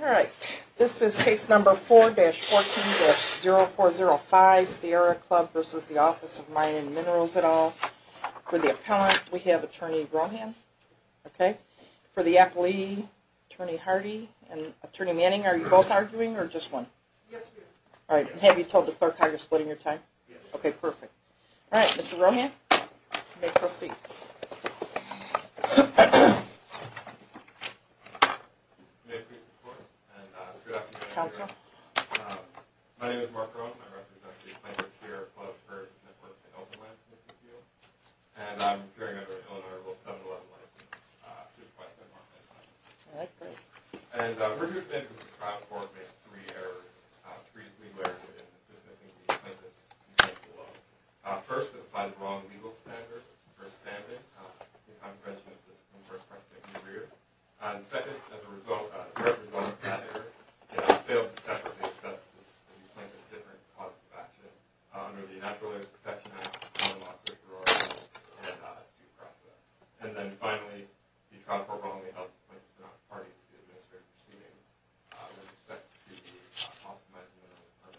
Alright, this is case number 4-14-0405, Sierra Club v. The Office of Mines and Minerals et al. For the appellant, we have Attorney Rohan. Okay? For the appellee, Attorney Hardy and Attorney Manning, are you both arguing or just one? Yes, we are. Alright, and have you told the clerk how you're splitting your time? Yes. Okay, perfect. Alright, Mr. Rohan, you may proceed. Good afternoon, Your Honor. Counsel. My name is Mark Rohan. I represent the plaintiff, Sierra Club v. The Office of Mines and Minerals et al. And I'm appearing under an Illinois Rule 711 license. Supervised by Mark Manning. Alright, great. And we're here today because the trial court made three errors. Three legal errors in discussing the plaintiff's intent below. First, it applied the wrong legal standard for a stand-in. I think I'm pregnant at this point, so I'm taking the rear. And second, as a result of that error, the plaintiff failed to separately assess the plaintiff's different causes of action under the Natural Resource Protection Act, the Lawsuit for Oral Abuse, and due process. And then finally, the trial court wrongly held the plaintiff to not be parties to the administrative proceedings with respect to the laws of mines and minerals.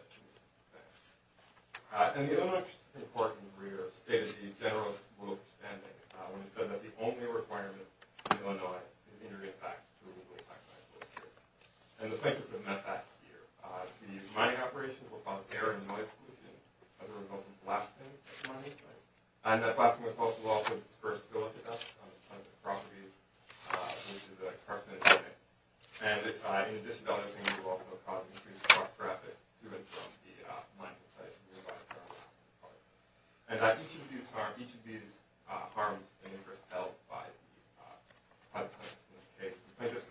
And the Illinois Supreme Court in the rear stated the general rule of standing when it said that the only requirement in Illinois is inter-impact through legal impact measures. And the plaintiffs have met that here. The mining operation will cause air and noise pollution as a result of blasting at the mining site. And that blasting will also cause dispersed silica dust on the property, which is a carcinogenic. And in addition to other things, it will also cause increased truck traffic to and from the mining site. And each of these harms have been held by the plaintiffs in this case. The plaintiffs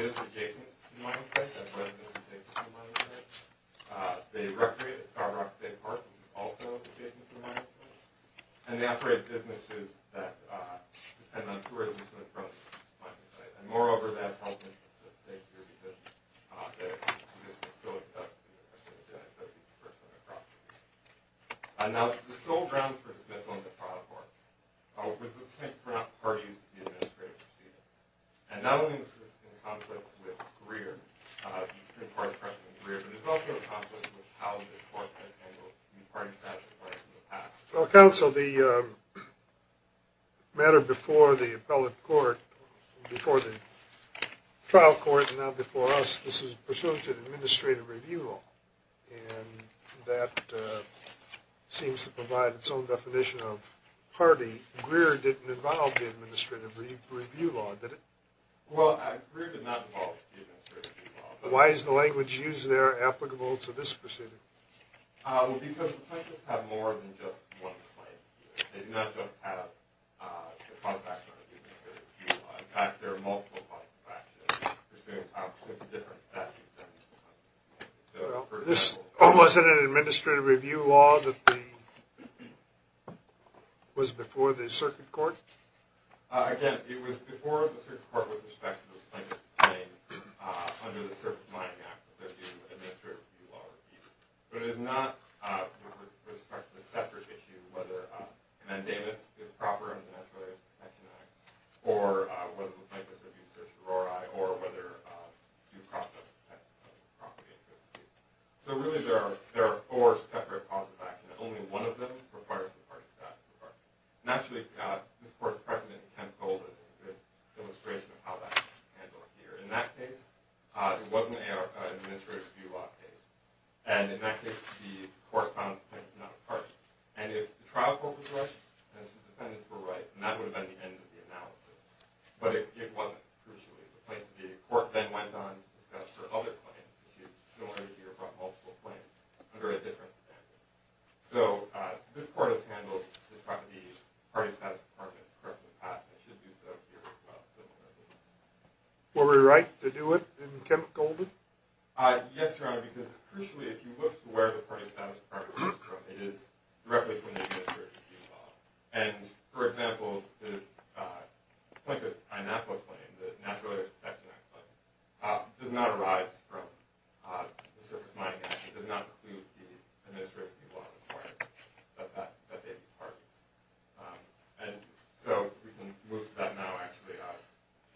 live adjacent to the mining site, have residence adjacent to the mining site. They recreate at Starbucks Bay Park, which is also adjacent to the mining site. And they operate businesses that depend on tourism from the mining site. And moreover, that's held in specific here because of the silica dust and the carcinogenic that we disperse on the property. Now, the sole grounds for dismissal in the trial court was the plaintiffs were not parties to the administrative proceedings. And not only is this in conflict with the Supreme Court's precedent in the rear, but it's also in conflict with how the court has handled the party statute in the past. Well, counsel, the matter before the appellate court, before the trial court, and now before us, this is pursuant to the administrative review law. And that seems to provide its own definition of party. Greer didn't involve the administrative review law, did it? Well, Greer did not involve the administrative review law. Why is the language used there applicable to this proceeding? Well, because the plaintiffs have more than just one claim here. They do not just have the contracts under the administrative review law. In fact, there are multiple points of action pursuant to different statute sentences. This wasn't an administrative review law that was before the circuit court? Again, it was before the circuit court with respect to the plaintiffs' claim under the Service Mining Act that the administrative review law was used. But it is not with respect to the separate issue of whether a mandamus is proper under the Natural Protection Act, or whether the plaintiffs are due search for RORI, or whether due process protections are properly enforced. So really, there are four separate points of action. Only one of them requires the party statute. Naturally, this court's precedent in Kent Golden is a good illustration of how that was handled here. In that case, it wasn't an administrative review law case. And in that case, the court found the plaintiffs not a party. And if the trial court was right and the defendants were right, then that would have been the end of the analysis. But it wasn't, crucially. The court then went on to discuss their other claims, similar to here, but multiple claims under a different statute. So this court has handled the party statute department correctly in the past, and it should do so here as well. Were we right to do it in Kent Golden? Yes, Your Honor, because, crucially, if you look to where the party statute department comes from, it is directly from the administrative review law. And, for example, the Plaintiff's pineapple claim, the Natural Protection Act claim, does not arise from the Service Mining Act. It does not include the administrative review law requirement that they be parties. And so we can move to that now, actually.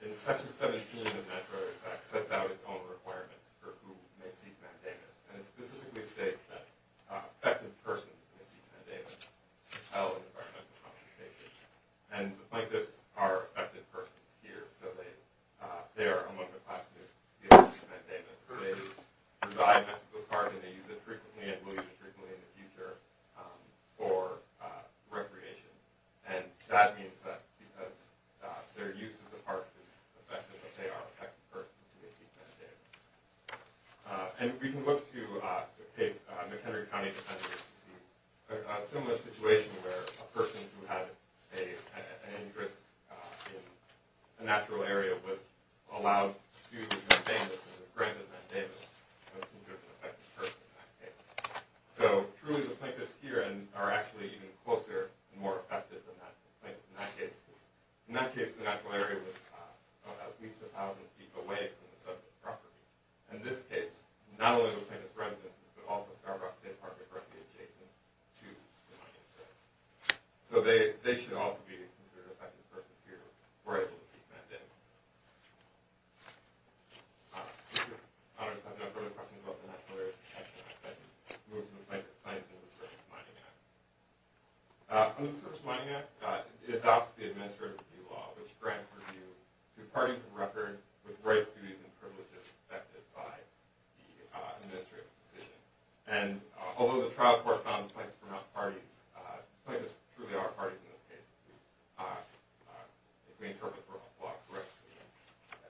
In Section 17 of the Natural Protection Act sets out its own requirements for who may seek mandamus. And it specifically states that affected persons may seek mandamus to entail an environmental complication. And the plaintiffs are affected persons here, so they are among the class that may seek mandamus. So they reside in this park, and they use it frequently and will use it frequently in the future for recreation. And that means that because their use of the park is affected, that they are affected persons who may seek mandamus. And we can look to the case of McHenry County Defendants to see a similar situation where a person who had an interest in a natural area was allowed to obtain this as a grant of mandamus, was considered an affected person in that case. So, truly, the plaintiffs here are actually even closer and more affected than the plaintiffs in that case. In that case, the natural area was at least 1,000 feet away from the subject property. In this case, not only the plaintiffs' residences, but also Starbrook State Park is directly adjacent to the mining center. So they should also be considered affected persons here who are able to seek mandamus. If your honors have no further questions about the Natural Area Protection Act, I can move to the Plaintiffs' Claims under the Service Mining Act. Under the Service Mining Act, it adopts the Administrative Review Law, which grants review to parties of record with rights, duties, and privileges affected by the administrative decision. And although the trial court found the plaintiffs were not parties, the plaintiffs truly are parties in this case, if we interpret the law correctly.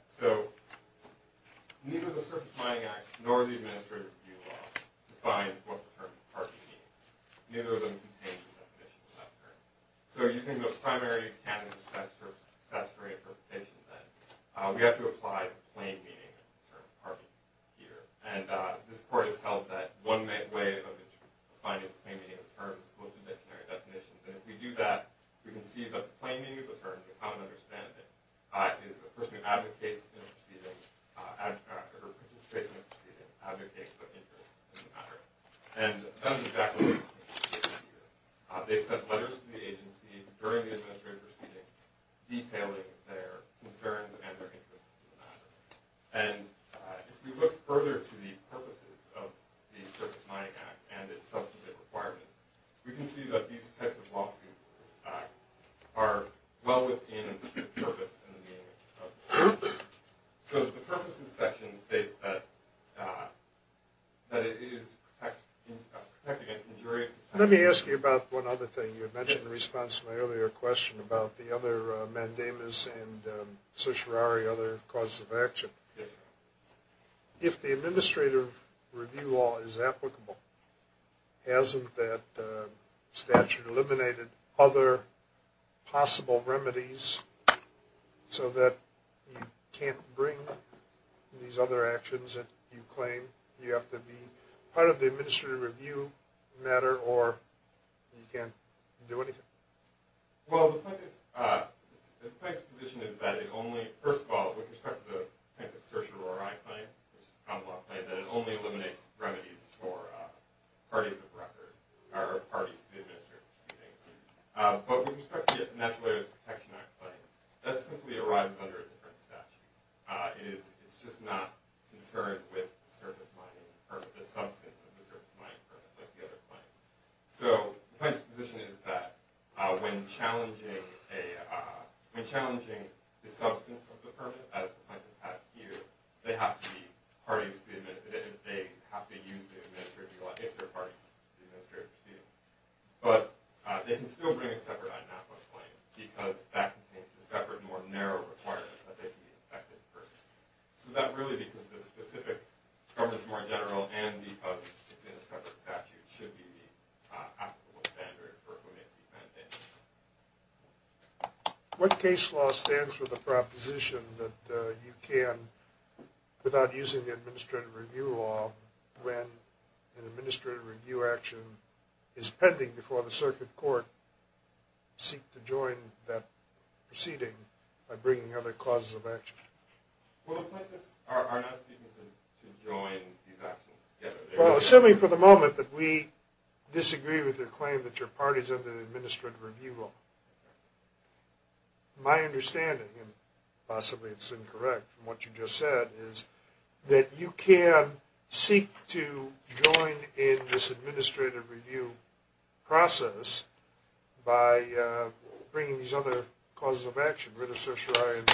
So, neither the Service Mining Act nor the Administrative Review Law defines what the term party means. Neither of them contains the definition of that term. So using the primary canon of statutory interpretation, then, we have to apply the plain meaning of the term party here. And this court has held that one way of defining the plain meaning of the term is to look at dictionary definitions. And if we do that, we can see that the plain meaning of the term, to a common understanding, is a person who advocates in a proceeding, or participates in a proceeding, advocates for interest in the matter. And that's exactly what the plaintiffs did here. They sent letters to the agency during the administrative proceedings, detailing their concerns and their interests in the matter. And if we look further to the purposes of the Service Mining Act and its substantive requirements, we can see that these types of lawsuits are well within the purpose and the meaning of the law. So the purposes section states that it is to protect against injuries. Let me ask you about one other thing. You had mentioned in response to my earlier question about the other mandamus and certiorari, other causes of action. If the Administrative Review Law is applicable, hasn't that statute eliminated other possible remedies so that you can't bring these other actions that you claim you have to be part of the administrative review matter, or you can't do anything? Well, the plaintiff's position is that it only, first of all, with respect to the type of certiorari claim, that it only eliminates remedies for parties of record, or parties of the administrative proceedings. But with respect to the Natural Area Protection Act claim, that simply arrives under a different statute. It's just not concerned with the substance of the service mining permit, like the other claim. So the plaintiff's position is that when challenging the substance of the permit, as the plaintiff has here, they have to be parties to the administrative review, if they're parties to the administrative review. But they can still bring a separate INAPA claim, because that contains a separate, more narrow requirement that they can be infected persons. So that really, because the specific term is more general, and because it's in a separate statute, should be the applicable standard for whom it's intended. What case law stands for the proposition that you can, without using the Administrative Review Law, when an administrative review action is pending before the circuit court, seek to join that proceeding by bringing other causes of action? Well, the plaintiffs are not seeking to join these actions together. Well, assuming for the moment that we disagree with your claim that you're parties under the Administrative Review Law. My understanding, and possibly it's incorrect from what you just said, is that you can seek to join in this administrative review process by bringing these other causes of action, I don't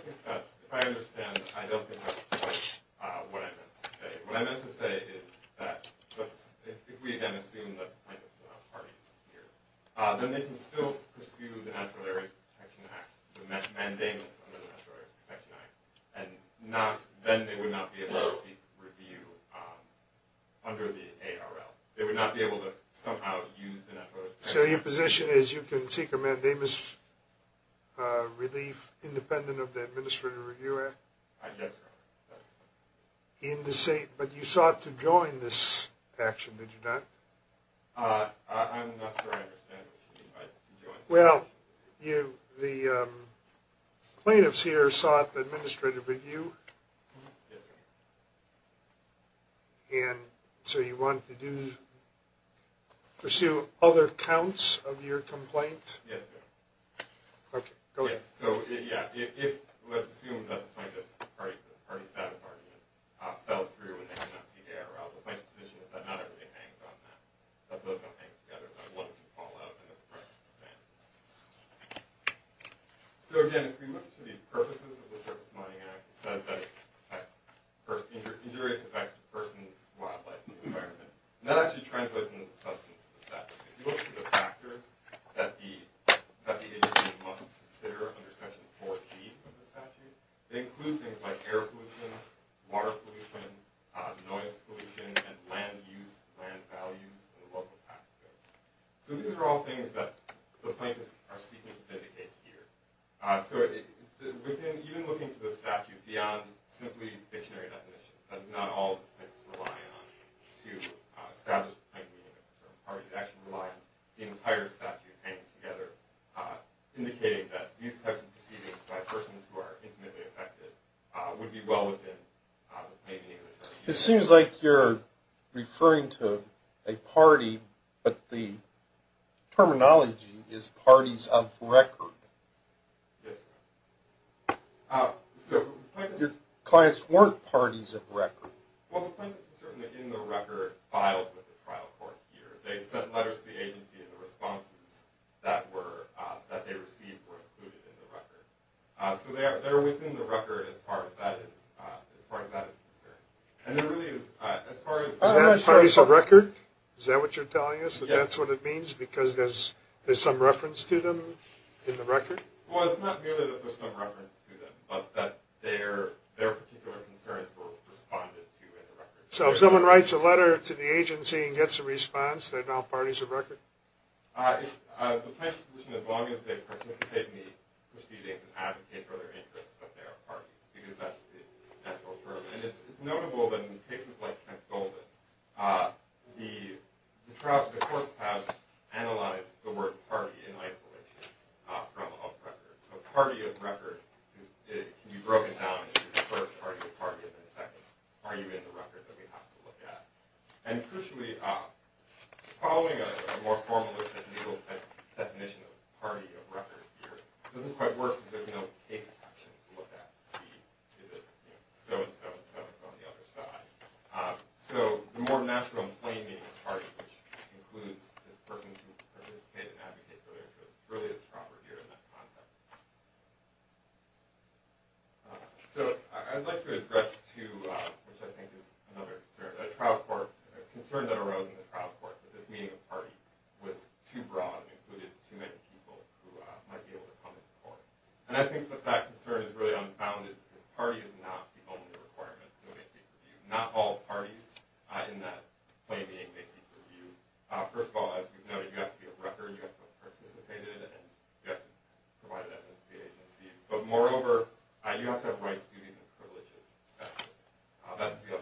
think that's, if I understand, I don't think that's quite what I meant to say. What I meant to say is that, let's, if we again assume that the plaintiff is not parties here, then they can still pursue the Natural Area Protection Act, the mandamus under the Natural Area Protection Act, and not, then they would not be able to seek review under the ARL. They would not be able to somehow use the Natural Area Protection Act. So your position is you can seek a mandamus relief independent of the Administrative Review Act? Yes, Your Honor. But you sought to join this action, did you not? I'm not sure I understand what you mean by join. Well, you, the plaintiffs here sought administrative review. Yes, Your Honor. And so you wanted to do, pursue other counts of your complaint? Yes, Your Honor. Okay, go ahead. Yes, so, yeah, if, let's assume that the plaintiff's party status argument fell through and they did not seek ARL, the plaintiff's position is that not everything hangs on that, that those don't hang together, that one can fall out, and that the price is spent. So again, if we look to the purposes of the Surface Mining Act, it says that it's to protect injurious effects to persons, wildlife, and the environment. And that actually translates into the substance of the statute. If you look at the factors that the agency must consider under Section 4B of the statute, they include things like air pollution, water pollution, noise pollution, and land use, land values, and local factors. So these are all things that the plaintiffs are seeking to indicate here. So within, even looking to the statute beyond simply dictionary definitions, that is not all the plaintiffs rely on to establish the plaintiff's party. They actually rely on the entire statute hanging together, indicating that these types of proceedings by persons who are intimately affected would be well within the plaintiff's party. It seems like you're referring to a party, but the terminology is parties of record. Yes, sir. Your clients weren't parties of record. Well, the plaintiffs are certainly in the record filed with the trial court here. They sent letters to the agency, and the responses that they received were included in the record. So they're within the record as far as that is concerned. And there really is, as far as- Is that parties of record? Is that what you're telling us, that that's what it means, because there's some reference to them in the record? Well, it's not merely that there's some reference to them, but that their particular concerns were responded to in the record. So if someone writes a letter to the agency and gets a response, they're now parties of record? The plaintiff's position, as long as they participate in the proceedings and advocate for their interests, that they are parties, because that's the natural term. And it's notable that in cases like Kent-Golden, the courts have analyzed the word party in isolation from of record. So party of record can be broken down into the first party of record and the second. Are you in the record that we have to look at? And crucially, following a more formalist and legal definition of party of record here doesn't quite work, because there's no case caption to look at. Is it so-and-so and so-and-so on the other side? So the more natural and plain meaning of party, which includes persons who participate and advocate for their interests, really is proper here in that context. So I'd like to address, which I think is another concern, a concern that arose in the trial court, that this meaning of party was too broad and included too many people who might be able to come to court. And I think that that concern is really unfounded, because party is not the only requirement that they seek review. Not all parties in that plain meaning may seek review. First of all, as we've noted, you have to be a record, you have to have participated, and you have to have provided evidence to the agency. But moreover, you have to have rights, duties, and privileges. That's the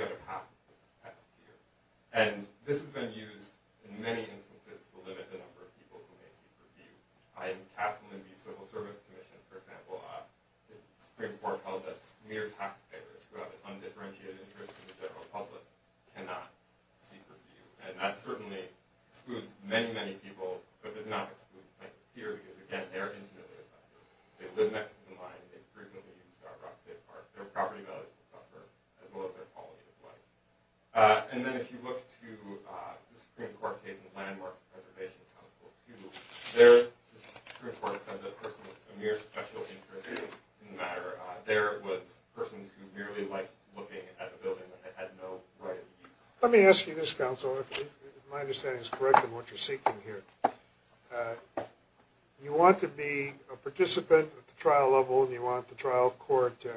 other half of the test here. And this has been used in many instances to limit the number of people who may seek review. I am casting the Civil Service Commission, for example, a Supreme Court held that mere taxpayers who have an undifferentiated interest in the general public cannot seek review. And that certainly excludes many, many people, but does not exclude, like, here, because, again, they are intimately affected. They live next to the line, they frequently use Rock Bay Park, their property values will suffer, as well as their quality of life. And then if you look to the Supreme Court case in Landmarks Preservation Council 2, there, the Supreme Court said that a person with a mere special interest in the matter, there it was persons who merely liked looking at a building that had no right of use. Let me ask you this, counsel, if my understanding is correct in what you're seeking here. You want to be a participant at the trial level, and you want the trial court to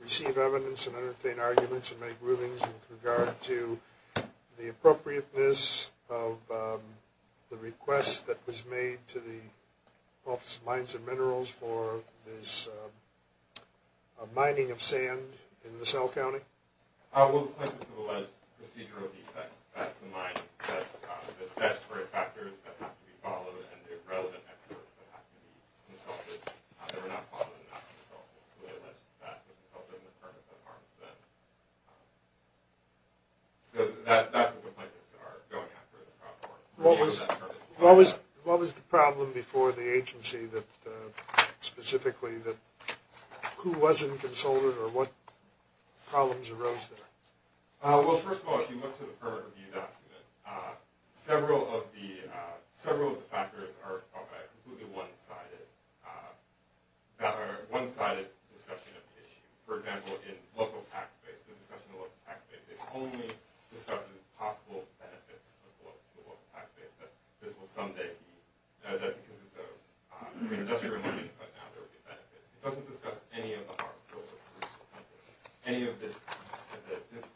receive evidence and entertain arguments and make rulings with regard to the appropriateness of the request that was made to the Office of Mines and Minerals for this mining of sand in LaSalle County? Well, the plaintiffs have alleged procedural defects. That's the mine. That's the statutory factors that have to be followed, and the relevant experts that have to be consulted. They were not followed and not consulted. So they alleged that was a result of a misdemeanor that harms them. So that's what the plaintiffs are going after in the trial court. What was the problem before the agency specifically? Who wasn't consulted, or what problems arose there? Well, first of all, if you look to the permit review document, several of the factors are completely one-sided discussion of the issue. For example, in local tax base, the discussion of local tax base, it only discusses possible benefits of the local tax base. But this will someday be, because it's an industrial mining site now, there will be benefits. It doesn't discuss any of the harms. Any of the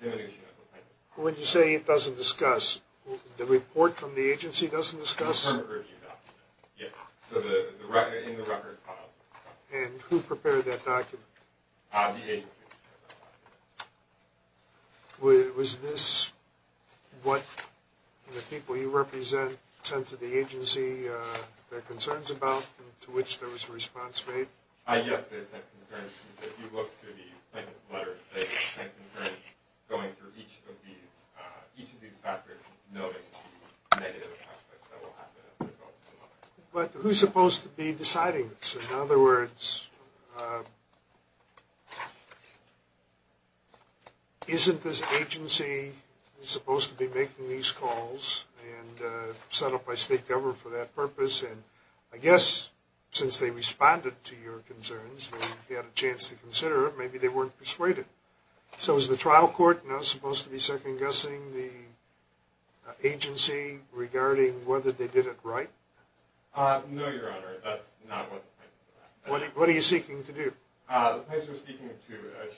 diminution of the plaintiff. When you say it doesn't discuss, the report from the agency doesn't discuss? The permit review document, yes. So in the record file. And who prepared that document? The agency prepared that document. Was this what the people you represent sent to the agency their concerns about, to which there was a response made? Yes, they sent concerns. If you look to the plaintiff's letters, they sent concerns going through each of these factors, noting the negative aspects that will happen as a result of the letter. But who's supposed to be deciding this? In other words, isn't this agency supposed to be making these calls and set up by state government for that purpose? And I guess, since they responded to your concerns, they had a chance to consider it. Maybe they weren't persuaded. So is the trial court now supposed to be second-guessing the agency regarding whether they did it right? No, Your Honor, that's not what the plaintiff did. What are you seeking to do? The plaintiff is seeking to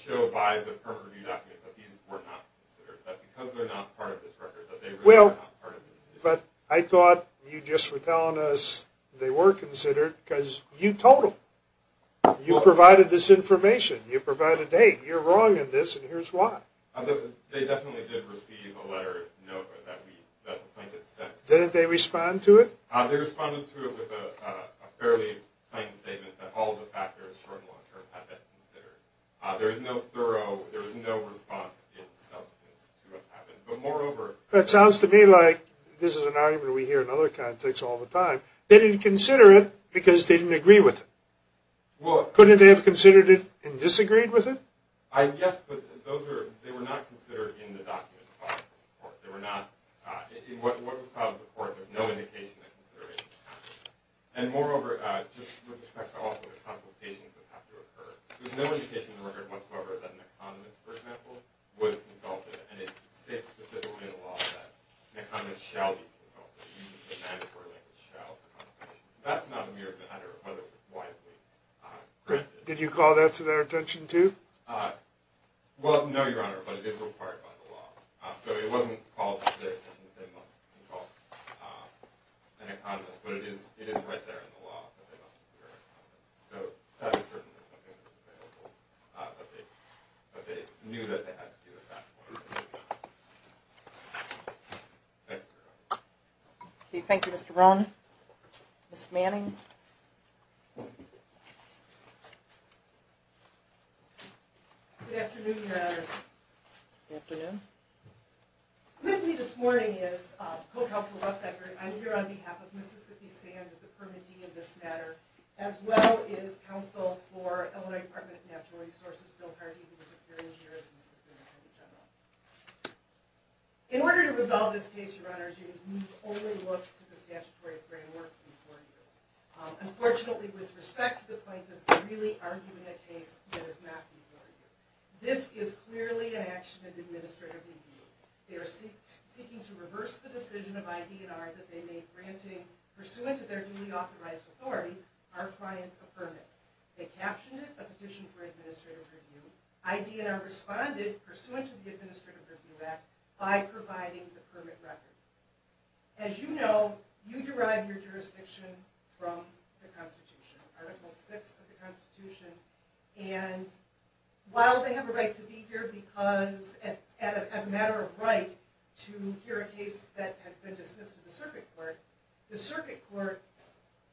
show by the permit review document that these were not considered. That because they're not part of this record, that they really are not part of this. But I thought you just were telling us they were considered, because you told them. You provided this information. You provided, hey, you're wrong in this, and here's why. They definitely did receive a letter of note that the plaintiff sent. They responded to it with a fairly plain statement that all of the factors, short and long-term, had been considered. There is no thorough, there is no response in substance to what happened. But moreover, That sounds to me like this is an argument we hear in other contexts all the time. They didn't consider it because they didn't agree with it. Couldn't they have considered it and disagreed with it? Yes, but they were not considered in the document. They were not, in what was filed in the court, there's no indication that consideration was taken. And moreover, just with respect to also the consultations that have to occur, there's no indication in the record whatsoever that an economist, for example, was consulted. And it states specifically in the law that an economist shall be consulted, using the mandatory language, shall, for consultations. That's not a mere matter of whether it was wisely granted. Did you call that to their attention, too? Well, no, Your Honor, but it is required by the law. So it wasn't called to their attention that they must consult an economist, but it is right there in the law that they must consult an economist. So that is certainly something that was available, but they knew that they had to do it at that point. Thank you, Your Honor. Thank you, Mr. Brown. Ms. Manning? Good afternoon, Your Honors. Good afternoon. With me this morning is co-counsel Russ Eckert. I'm here on behalf of Mississippi Sands, the permittee in this matter, as well as counsel for Illinois Department of Natural Resources, Bill Hardy, who was a peer engineer as an assistant attorney general. In order to resolve this case, Your Honors, you can only look to the statutory framework before you. Unfortunately, with respect to the plaintiffs, they're really arguing a case that is not being argued. This is clearly an action in administrative review. They are seeking to reverse the decision of IDNR that they made granting, pursuant to their duly authorized authority, our client a permit. They captioned it, a petition for administrative review. IDNR responded, pursuant to the Administrative Review Act, by providing the permit record. As you know, you derive your jurisdiction from the Constitution. Article VI of the Constitution. And while they have a right to be here because, as a matter of right, to hear a case that has been dismissed to the Circuit Court, the Circuit Court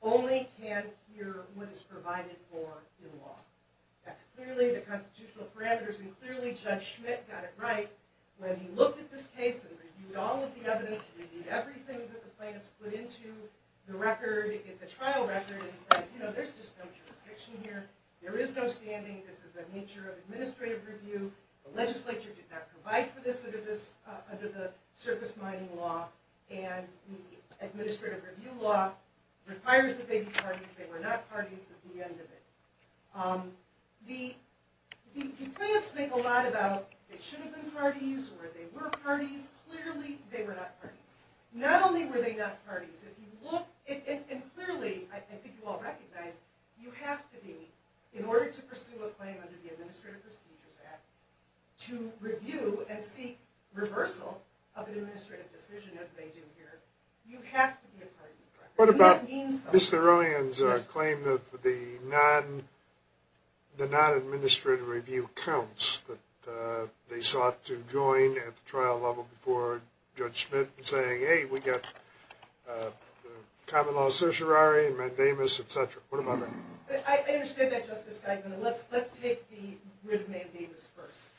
only can hear what is provided for in law. That's clearly the constitutional parameters, and clearly Judge Schmidt got it right when he looked at this case and reviewed all of the evidence, reviewed everything that the plaintiffs put into the record, the trial record, and said, you know, there's just no jurisdiction here. There is no standing. This is a nature of administrative review. The legislature did not provide for this under the surface mining law, and the administrative review law requires that they be parties. They were not parties at the end of it. The plaintiffs make a lot about it should have been parties, or they were parties. Clearly, they were not parties. Not only were they not parties, if you look, and clearly, I think you all recognize, you have to be, in order to pursue a claim under the Administrative Procedures Act, to review and seek reversal of an administrative decision, as they do here, you have to be a party in the record. What about Mr. Rowan's claim that the non-administrative review counts, that they sought to join at the trial level before Judge Schmidt in saying, hey, we've got common law certiorari and mandamus, et cetera. What about that? I understand that, Justice Steinman. Let's take the writ of mandamus first.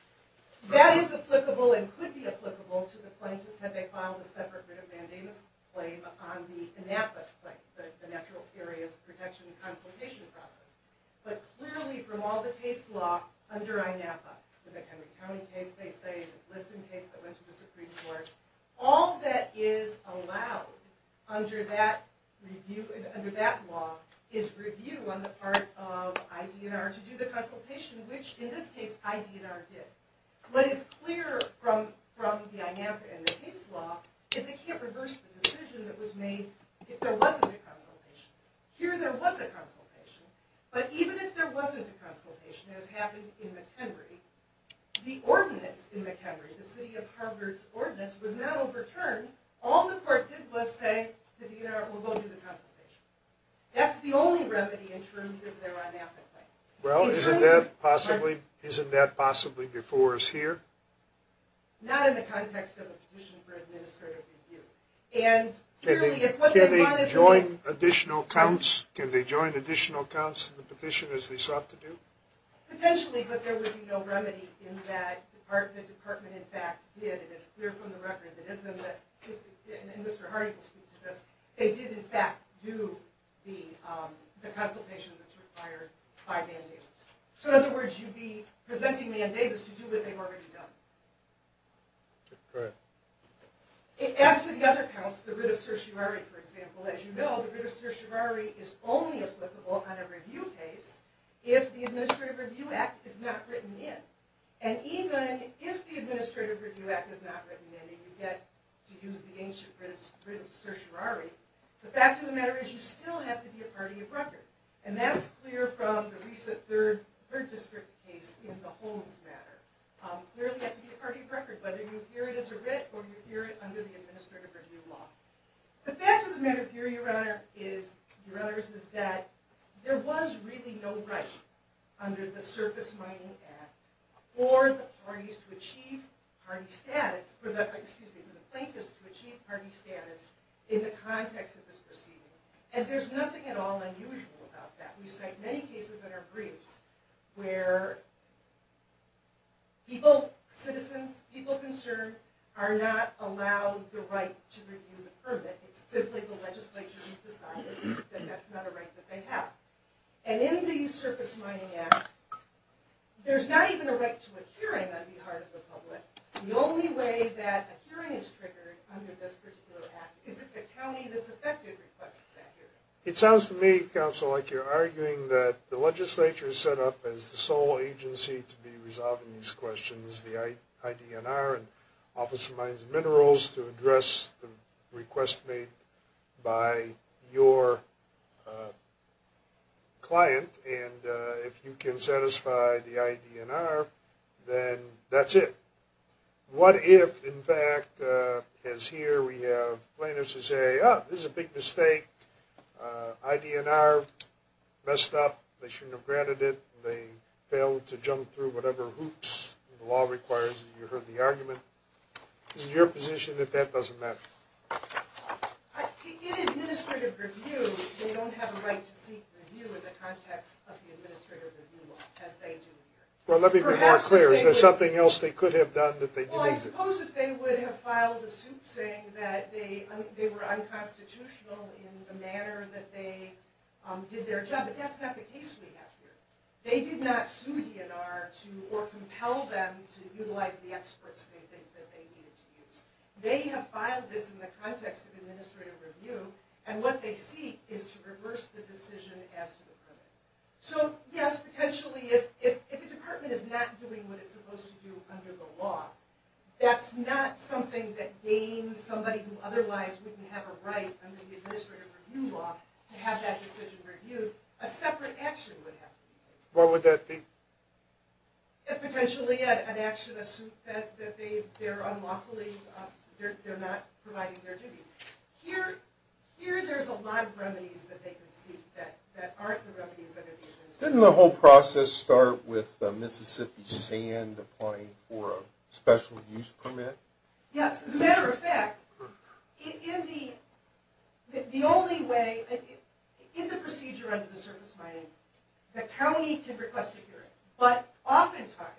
That is applicable and could be applicable to the plaintiffs had they filed a separate writ of mandamus claim on the INAPA claim, the Natural Areas Protection Consultation process. But clearly, from all the case law under INAPA, the McHenry County case they studied, the Liston case that went to the Supreme Court, all that is allowed under that law is review on the part of IDNR to do the consultation, which, in this case, IDNR did. What is clear from the INAPA and the case law is they can't reverse the decision that was made if there wasn't a consultation. Here, there was a consultation. But even if there wasn't a consultation, as happened in McHenry, the ordinance in McHenry, the City of Harvard's ordinance, was not overturned. All the court did was say, the DNR will go do the consultation. That's the only remedy in terms of their INAPA claim. Well, isn't that possibly before us here? Not in the context of a petition for administrative review. Can they join additional accounts in the petition, as they sought to do? Potentially, but there would be no remedy in that the department, in fact, did, and it's clear from the record, and Mr. Hardy will speak to this, they did, in fact, do the consultation that's required by Man Davis. So, in other words, you'd be presenting Man Davis to do what they've already done. Go ahead. As to the other counts, the writ of certiorari, for example, as you know, the writ of certiorari is only applicable on a review case if the Administrative Review Act is not written in. And even if the Administrative Review Act is not written in, and you get to use the ancient writ of certiorari, the fact of the matter is you still have to be a party of record. And that's clear from the recent 3rd District case in the Holmes matter. Clearly, you have to be a party of record, whether you appear it as a writ or you appear it under the Administrative Review Law. The fact of the matter here, Your Honors, is that there was really no right under the Surface Mining Act for the parties to achieve party status for the plaintiffs to achieve party status in the context of this proceeding. And there's nothing at all unusual about that. We cite many cases in our briefs where people, citizens, people concerned, are not allowed the right to review the permit. It's simply the legislature has decided that that's not a right that they have. And in the Surface Mining Act, there's not even a right to a hearing on behalf of the public. The only way that a hearing is triggered under this particular act is if the county that's affected requests that hearing. It sounds to me, Counsel, like you're arguing that the legislature is set up as the sole agency to be resolving these questions, the IDNR and Office of Mines and Minerals, to address the request made by your client. And if you can satisfy the IDNR, then that's it. What if, in fact, as here we have plaintiffs who say, oh, this is a big mistake, IDNR messed up, they shouldn't have granted it, they failed to jump through whatever hoops the law requires, and you heard the argument. Is it your position that that doesn't matter? In administrative review, they don't have a right to seek review in the context of the administrative review law, as they do here. Well, let me be more clear. Is there something else they could have done that they didn't? Well, I suppose if they would have filed a suit saying that they were unconstitutional in the manner that they did their job. But that's not the case we have here. They did not sue IDNR or compel them to utilize the experts they think that they needed to use. They have filed this in the context of administrative review, and what they seek is to reverse the decision as to the permit. So, yes, potentially if a department is not doing what it's supposed to do under the law, that's not something that gains somebody who otherwise wouldn't have a right under the administrative review law to have that decision reviewed. A separate action would have to be taken. What would that be? Potentially an action, a suit, that they're unlawfully, they're not providing their duty. Here, there's a lot of remedies that they could seek that aren't the remedies under the administrative review law. Didn't the whole process start with Mississippi Sand applying for a special use permit? Yes. As a matter of fact, in the only way, in the procedure under the surface mining, the county can request a hearing. But oftentimes,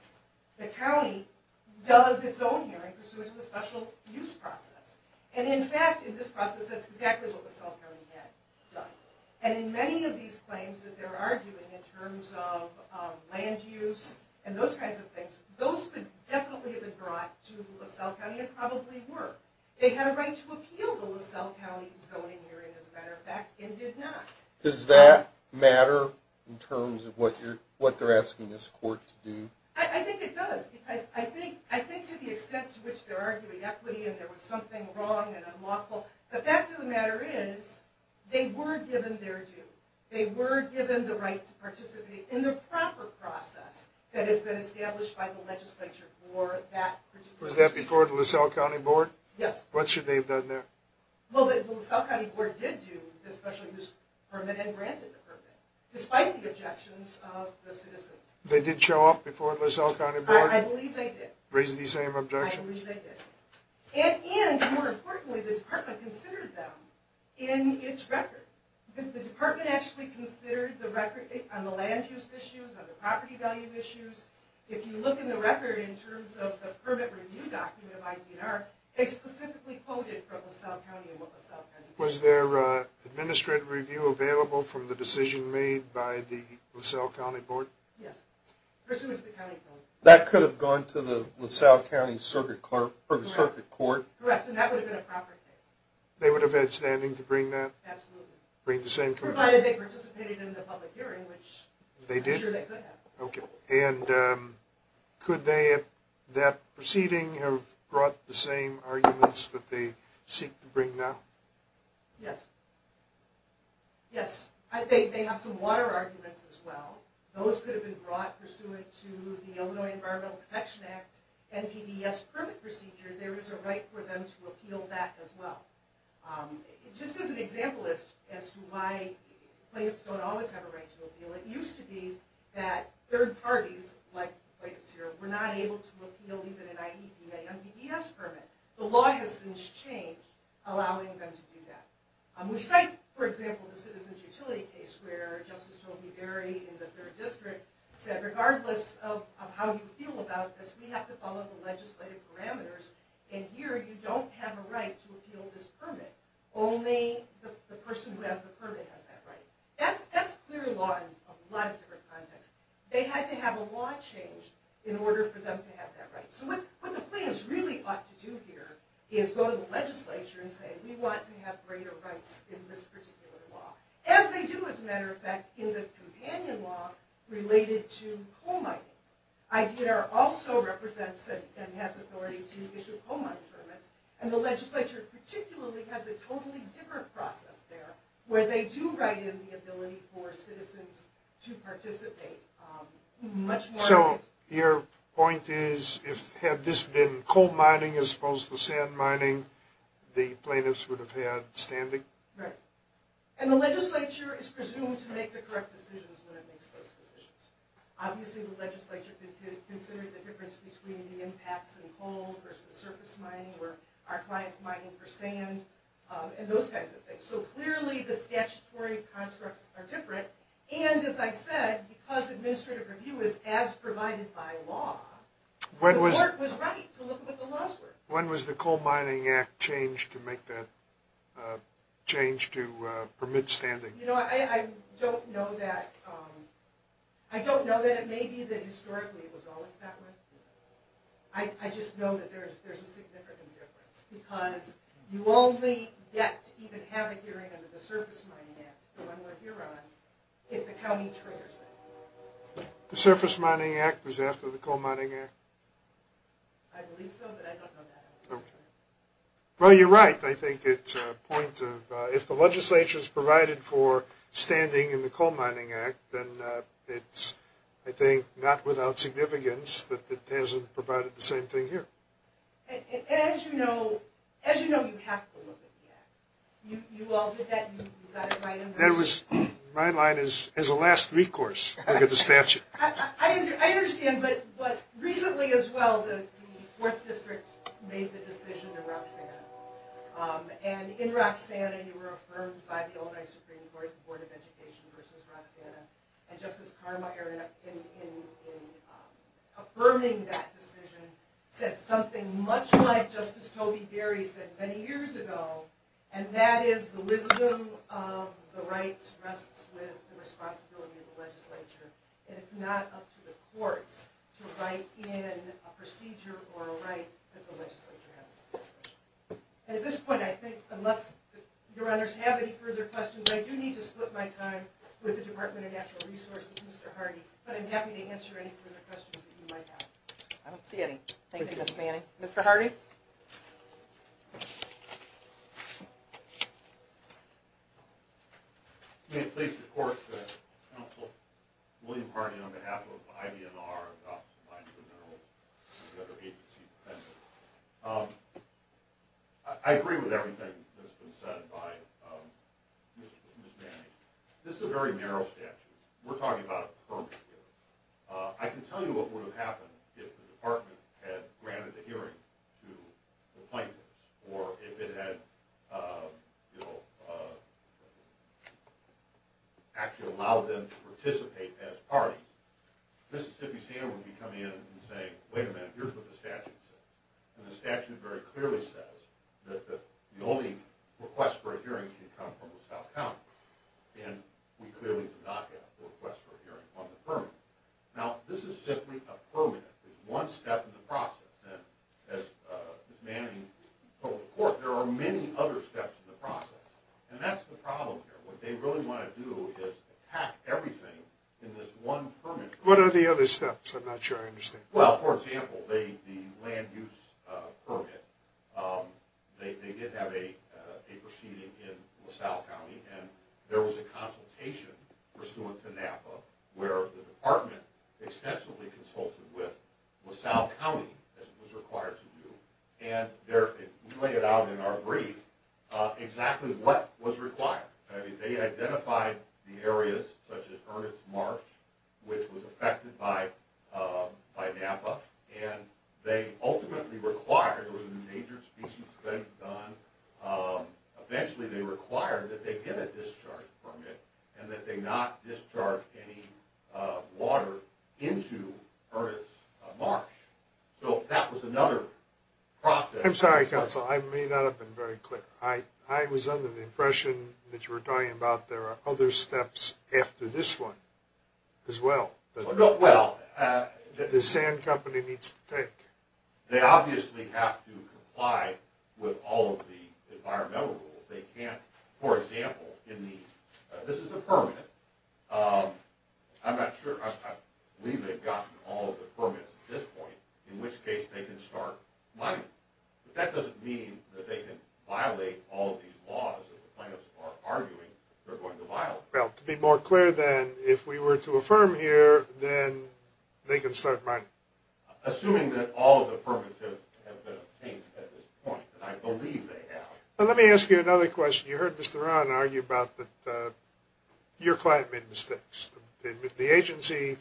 the county does its own hearing pursuant to the special use process. And in fact, in this process, that's exactly what LaSalle County had done. And in many of these claims that they're arguing in terms of land use and those kinds of things, those could definitely have been brought to LaSalle County, and probably were. They had a right to appeal the LaSalle County zoning hearing, as a matter of fact, and did not. Does that matter in terms of what they're asking this court to do? I think it does. I think to the extent to which they're arguing equity and there was something wrong and unlawful, the fact of the matter is, they were given their due. They were given the right to participate in the proper process that has been established by the legislature for that particular situation. Was that before the LaSalle County Board? Yes. What should they have done there? Well, the LaSalle County Board did do the special use permit and granted the permit, despite the objections of the citizens. They did show up before the LaSalle County Board? I believe they did. Raised the same objections? I believe they did. And more importantly, the department considered them in its record. The department actually considered the record on the land use issues, on the property value issues. If you look in the record in terms of the permit review document of ID&R, they specifically quoted from LaSalle County and what LaSalle County did. Was there an administrative review available from the decision made by the LaSalle County Board? Yes, pursuant to the county code. That could have gone to the LaSalle County Circuit Court. Correct, and that would have been a proper case. They would have had standing to bring that? Absolutely. Bring the same case? Provided they participated in the public hearing, which I'm sure they could have. Okay, and could they, at that proceeding, have brought the same arguments that they seek to bring now? Yes. Yes, they have some water arguments as well. Those could have been brought pursuant to the Illinois Environmental Protection Act and PDES permit procedure. There is a right for them to appeal that as well. Just as an example as to why plaintiffs don't always have a right to appeal, it used to be that third parties, like plaintiffs here, were not able to appeal even an IEDA and PDES permit. The law has since changed allowing them to do that. We cite, for example, the Citizens Utility case where Justice Toby Berry in the 3rd District said, regardless of how you feel about this, we have to follow the legislative parameters, and here you don't have a right to appeal this permit. Only the person who has the permit has that right. That's clear law in a lot of different contexts. They had to have a law changed in order for them to have that right. So what the plaintiffs really ought to do here is go to the legislature and say, we want to have greater rights in this particular law. As they do, as a matter of fact, in the companion law related to coal mining. IEDA also represents and has authority to issue coal mining permits, and the legislature particularly has a totally different process there, where they do write in the ability for citizens to participate. So your point is, had this been coal mining as opposed to sand mining, the plaintiffs would have had standing? Right. And the legislature is presumed to make the correct decisions when it makes those decisions. Obviously the legislature considered the difference between the impacts in coal versus surface mining, or our clients mining for sand, and those kinds of things. So clearly the statutory constructs are different, and as I said, because administrative review is as provided by law, the court was right to look at what the laws were. When was the Coal Mining Act changed to make that change to permit standing? You know, I don't know that it may be that historically it was always that way. I just know that there's a significant difference, because you only get to even have a hearing under the Surface Mining Act, the one we're here on, if the county triggers it. The Surface Mining Act was after the Coal Mining Act? I believe so, but I don't know that. Well, you're right. I think it's a point of, if the legislature's provided for standing in the Coal Mining Act, then it's, I think, not without significance that it hasn't provided the same thing here. And as you know, you have to look at the Act. You all did that, and you got it right? My line is, as a last recourse, look at the statute. I understand, but recently as well, the 4th District made the decision in Roxanna. And in Roxanna, you were affirmed by the Illinois Supreme Court, the Board of Education versus Roxanna. And Justice Carmichael, in affirming that decision, said something much like Justice Tobey Gary said many years ago, and that is, the wisdom of the rights rests with the responsibility of the legislature. And it's not up to the courts to write in a procedure or a right that the legislature has in this situation. And at this point, I think, unless your honors have any further questions, I do need to split my time with the Department of Natural Resources, Mr. Hardy, but I'm happy to answer any further questions that you might have. I don't see any. Thank you, Ms. Manning. Mr. Hardy? Please. May it please the Court that Counsel William Hardy, on behalf of the IVNR, the Office of Mines and Minerals, and the other agencies present, I agree with everything that's been said by Ms. Manning. This is a very narrow statute. We're talking about a permit here. I can tell you what would have happened if the Department had granted the hearing to the plaintiffs, or if it had, you know, actually allowed them to participate as parties. Mississippi Standard would be coming in and saying, wait a minute, here's what the statute says. And the statute very clearly says that the only request for a hearing can come from the South County, and we clearly do not have a request for a hearing on the permit. Now, this is simply a permit. It's one step in the process. And as Ms. Manning told the Court, there are many other steps in the process, and that's the problem here. What they really want to do is attack everything in this one permit. What are the other steps? I'm not sure I understand. Well, for example, the land use permit, they did have a proceeding in LaSalle County, and there was a consultation pursuant to NAPA where the Department extensively consulted with LaSalle County, as it was required to do, and we laid out in our brief exactly what was required. They identified the areas such as Ernest Marsh, which was affected by NAPA, and they ultimately required, there was an endangered species study done, eventually they required that they get a discharge permit, and that they not discharge any water into Ernest Marsh. So that was another process. I'm sorry, counsel, I may not have been very clear. I was under the impression that you were talking about there are other steps after this one as well. Well, the sand company needs to take. They obviously have to comply with all of the environmental rules. They can't, for example, this is a permit. I'm not sure, I believe they've gotten all of the permits at this point, in which case they can start mining. But that doesn't mean that they can violate all of these laws that the plaintiffs are arguing they're going to violate. Well, to be more clear then, if we were to affirm here, then they can start mining. Assuming that all of the permits have been obtained at this point, and I believe they have. Let me ask you another question. You heard Mr. Rahn argue about that your client made mistakes. The agency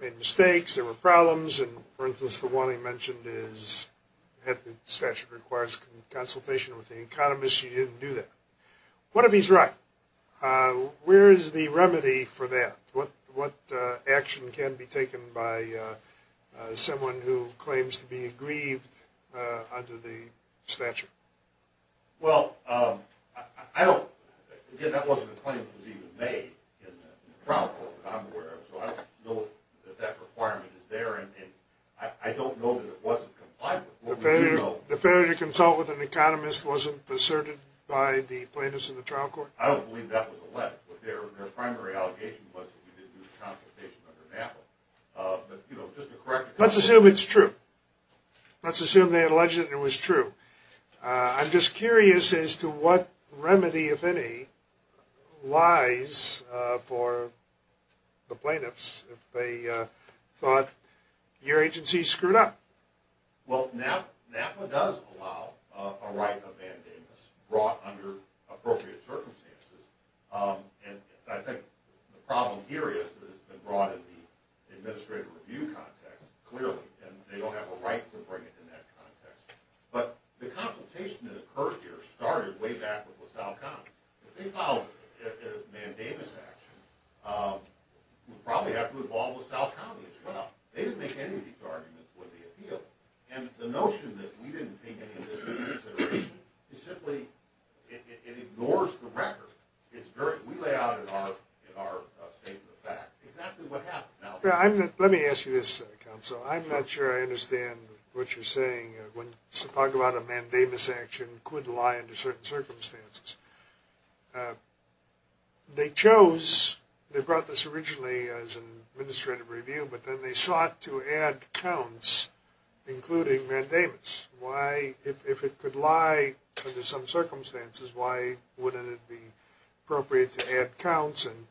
made mistakes, there were problems, and for instance the one he mentioned is the statute requires consultation with the economist. You didn't do that. What if he's right? Where is the remedy for that? What action can be taken by someone who claims to be aggrieved under the statute? Well, I don't, again that wasn't a claim that was even made in the trial court that I'm aware of, so I don't know that that requirement is there, and I don't know that it wasn't complied with. The failure to consult with an economist wasn't asserted by the plaintiffs in the trial court? I don't believe that was alleged. Their primary allegation was that we didn't do the consultation under NAPA. Let's assume it's true. Let's assume they alleged it was true. I'm just curious as to what remedy, if any, lies for the plaintiffs if they thought your agency screwed up. Well, NAPA does allow a right of mandamus brought under appropriate circumstances, and I think the problem here is that it's been brought in the administrative review context, clearly, and they don't have a right to bring it in that context. But the consultation that occurred here started way back with LaSalle County. If they filed a mandamus action, we'd probably have to involve LaSalle County as well. They didn't make any of these arguments with the appeal, and the notion that we didn't take any of this into consideration simply ignores the record. We lay out in our statement of facts exactly what happened. Let me ask you this, counsel. I'm not sure I understand what you're saying when you talk about a mandamus action could lie under certain circumstances. They chose, they brought this originally as an administrative review, but then they sought to add counts, including mandamus. Why, if it could lie under some circumstances, why wouldn't it be appropriate to add counts and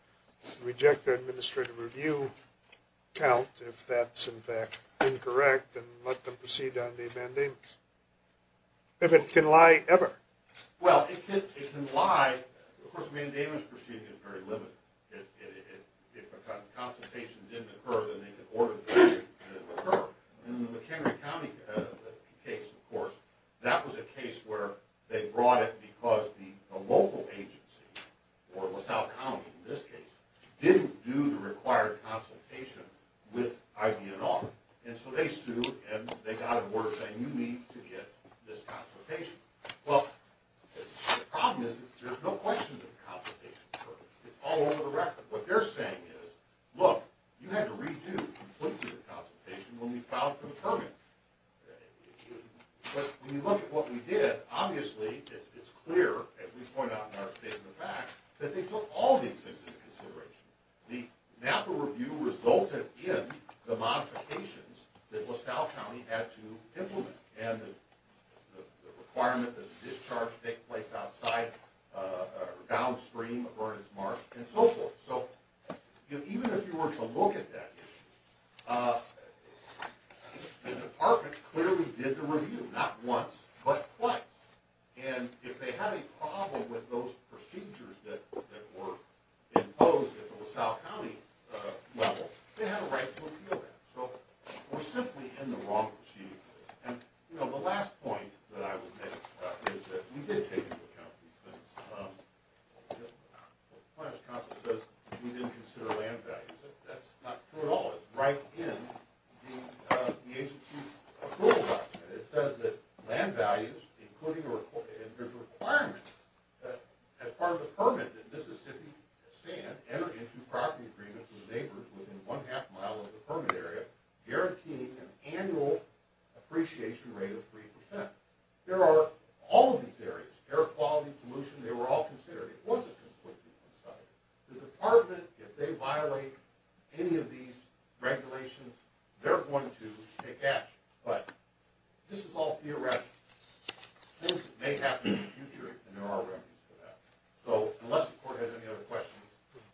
reject the administrative review count if that's, in fact, incorrect, and let them proceed on the mandamus, if it can lie ever? Well, it can lie. Of course, the mandamus proceeding is very limited. If a consultation didn't occur, then they can order the case to occur. In the McHenry County case, of course, that was a case where they brought it because the local agency, or LaSalle County in this case, didn't do the required consultation with IVNR. And so they sued, and they got an order saying you need to get this consultation. Well, the problem is there's no question that the consultation occurred. It's all over the record. What they're saying is, look, you had to redo completely the consultation when we filed for the permit. But when you look at what we did, obviously it's clear, as we point out in our statement back, that they took all these things into consideration. The NAPA review resulted in the modifications that LaSalle County had to implement, and the requirement that the discharge take place outside or downstream of Ernest Marsh, and so forth. So even if you were to look at that issue, the department clearly did the review, not once, but twice. And if they had a problem with those procedures that were imposed at the LaSalle County level, they had a right to appeal that. So we're simply in the wrong proceeding place. And, you know, the last point that I would make is that we did take into account these things. The Planner's Council says we didn't consider land values. That's not true at all. It's right in the agency's approval document. It says that land values, including the requirement that as part of the permit, enter into property agreements with the neighbors within one-half mile of the permit area, guaranteeing an annual appreciation rate of 3%. There are all of these areas, air quality, pollution, they were all considered. It wasn't completely unsubstantiated. The department, if they violate any of these regulations, they're going to take action. But this is all theoretical. Things that may happen in the future, and there are remedies for that. So unless the court has any other questions,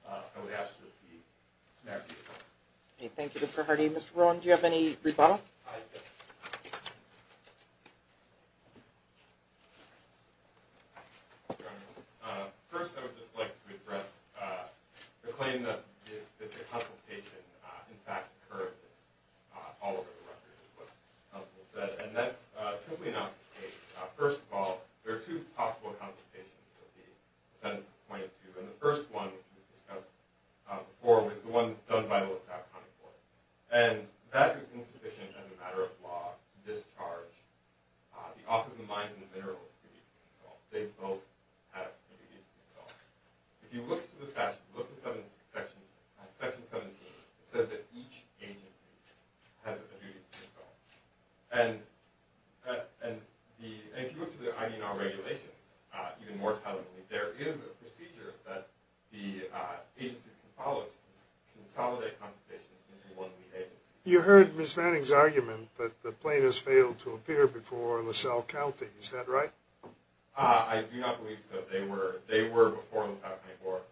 I would ask that the matter be referred. Thank you, Mr. Hardy. Mr. Rowan, do you have any rebuttal? Yes. First, I would just like to address the claim that the consultation, in fact, occurred all over the record, is what counsel said. And that's simply not the case. First of all, there are two possible consultations that the defendants have pointed to. And the first one we've discussed before was the one done by the LaSalle County Court. And that is insufficient as a matter of law to discharge the Office of Mines and Minerals' duty to consult. They both have a duty to consult. If you look at the statute, look at Section 17, it says that each agency has a duty to consult. And if you look to the ID&R regulations, even more tellingly, there is a procedure that the agencies can follow to consolidate consultations between one and the agency. You heard Ms. Fanning's argument that the plaintiffs failed to appear before LaSalle County. Is that right? I do not believe so. They were before LaSalle County Court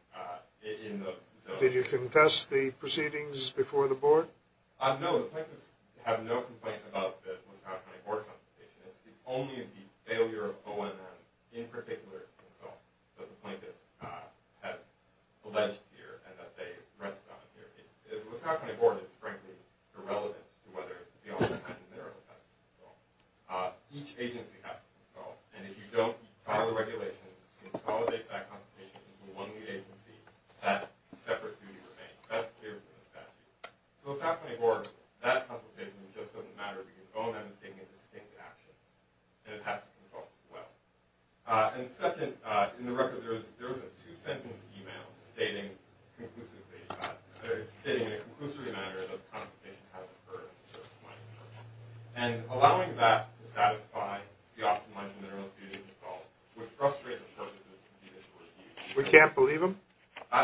in those zones. Did you confess the proceedings before the board? No, the plaintiffs have no complaint about the LaSalle County Board consultation. It's only the failure of O&M in particular to consult that the plaintiffs have alleged here and that they rest on here. LaSalle County Board is frankly irrelevant to whether the Office of Mines and Minerals has to consult. Each agency has to consult. And if you don't follow the regulations to consolidate that consultation between one lead agency, that separate duty remains. That's clear from the statute. So LaSalle County Board, that consultation just doesn't matter because O&M is taking a distinct action, and it has to consult as well. And second, in the record, there was a two-sentence email stating conclusively, or stating in a conclusory manner that the consultation has deferred. And allowing that to satisfy the Office of Mines and Minerals' duty to consult would frustrate the purposes of the individual review. We can't believe them?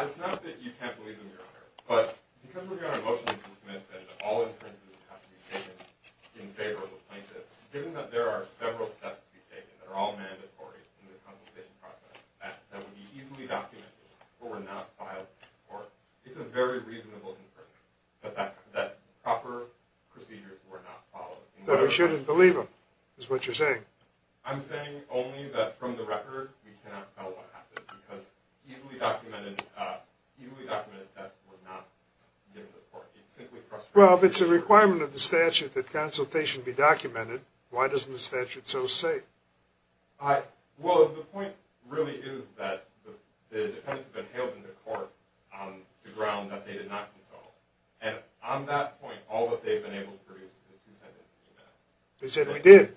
It's not that you can't believe them, Your Honor, but because we're going to emotionally dismiss that all inferences have to be taken in favor of the plaintiffs, given that there are several steps to be taken that are all mandatory in the consultation process, that would be easily documented or were not filed in this court, it's a very reasonable inference that proper procedures were not followed. That we shouldn't believe them is what you're saying. I'm saying only that from the record we cannot tell what happened because easily documented steps were not given to the court. It simply frustrates me. Well, if it's a requirement of the statute that consultation be documented, why doesn't the statute so say? Well, the point really is that the defendants have been hailed into court on the ground that they did not consult. And on that point, all that they've been able to produce is a two-sentence email. They said we did.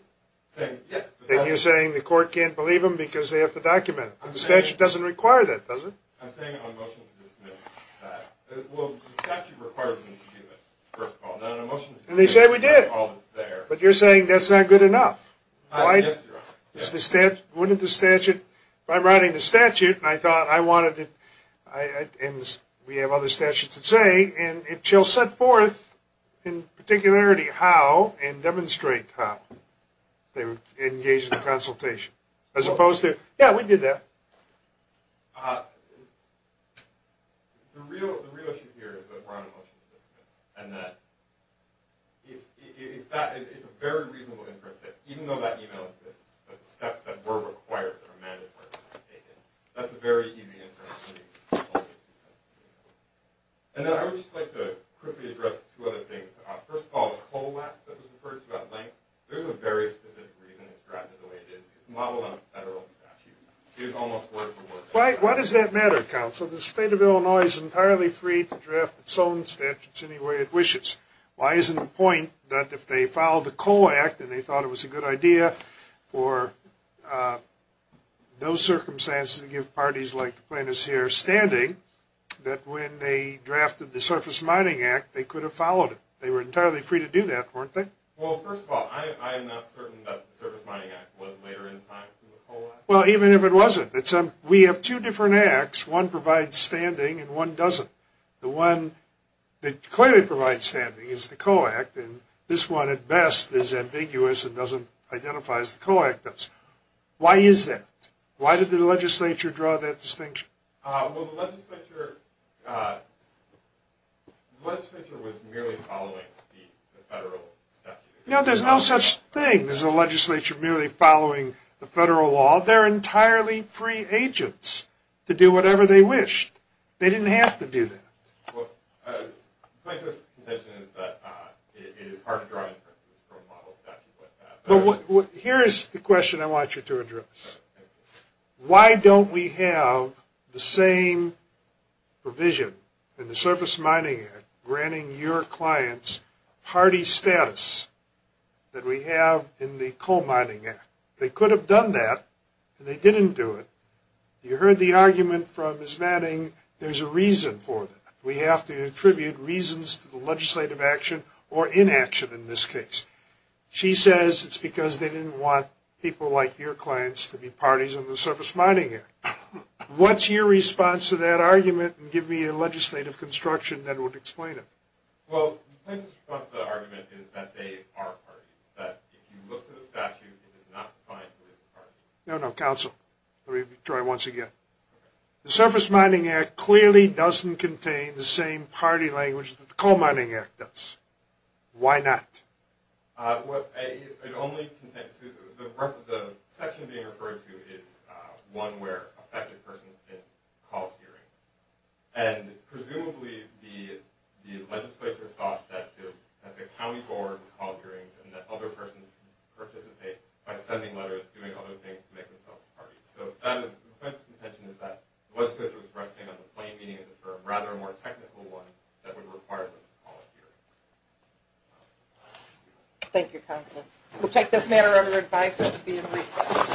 And you're saying the court can't believe them because they have to document it. The statute doesn't require that, does it? I'm saying it on a motion to dismiss that. Well, the statute requires them to do it, first of all. Not on a motion to dismiss. And they say we did. That's all that's there. But you're saying that's not good enough. Yes, Your Honor. Wouldn't the statute, if I'm writing the statute and I thought I wanted to, and we have other statutes that say, and it shall set forth in particularity how and demonstrate how they would engage in a consultation, as opposed to, yeah, we did that. The real issue here is that we're on a motion to dismiss. And that it's a very reasonable inference that even though that email exists, that the steps that were required or mandatory were not taken. That's a very easy inference. And then I would just like to quickly address two other things. There's a very specific reason it's drafted the way it is. It's modeled on a federal statute. It is almost word for word. Why does that matter, counsel? The state of Illinois is entirely free to draft its own statutes any way it wishes. Why isn't the point that if they followed the COLE Act and they thought it was a good idea for those circumstances to give parties like the plaintiffs here standing, that when they drafted the Surface Mining Act, they could have followed it? They were entirely free to do that, weren't they? Well, first of all, I am not certain that the Surface Mining Act was later in time to the COLE Act. Well, even if it wasn't, we have two different acts. One provides standing and one doesn't. The one that clearly provides standing is the COLE Act, and this one at best is ambiguous and doesn't identify as the COLE Act does. Why is that? Why did the legislature draw that distinction? Well, the legislature was merely following the federal statute. No, there's no such thing as a legislature merely following the federal law. They're entirely free agents to do whatever they wished. They didn't have to do that. Well, plaintiff's contention is that it is hard to draw inferences from model statutes like that. Here is the question I want you to address. Why don't we have the same provision in the Surface Mining Act granting your clients party status that we have in the COLE Mining Act? They could have done that, and they didn't do it. You heard the argument from Ms. Manning. There's a reason for that. We have to attribute reasons to the legislative action or inaction in this case. She says it's because they didn't want people like your clients to be parties in the Surface Mining Act. What's your response to that argument? Give me a legislative construction that would explain it. Well, plaintiff's response to that argument is that they are parties, that if you look at the statute, it does not define who is a party. No, no, counsel. Let me try once again. The Surface Mining Act clearly doesn't contain the same party language that the COLE Mining Act does. Why not? The section being referred to is one where affected persons can call hearings. Presumably, the legislature thought that the county board called hearings and that other persons could participate by sending letters, doing other things to make themselves parties. The plaintiff's contention is that the legislature was resting on the plain meaning of the term, rather a more technical one that would require them to call a hearing. Thank you, counsel. We'll take this matter under advisement to be in recess.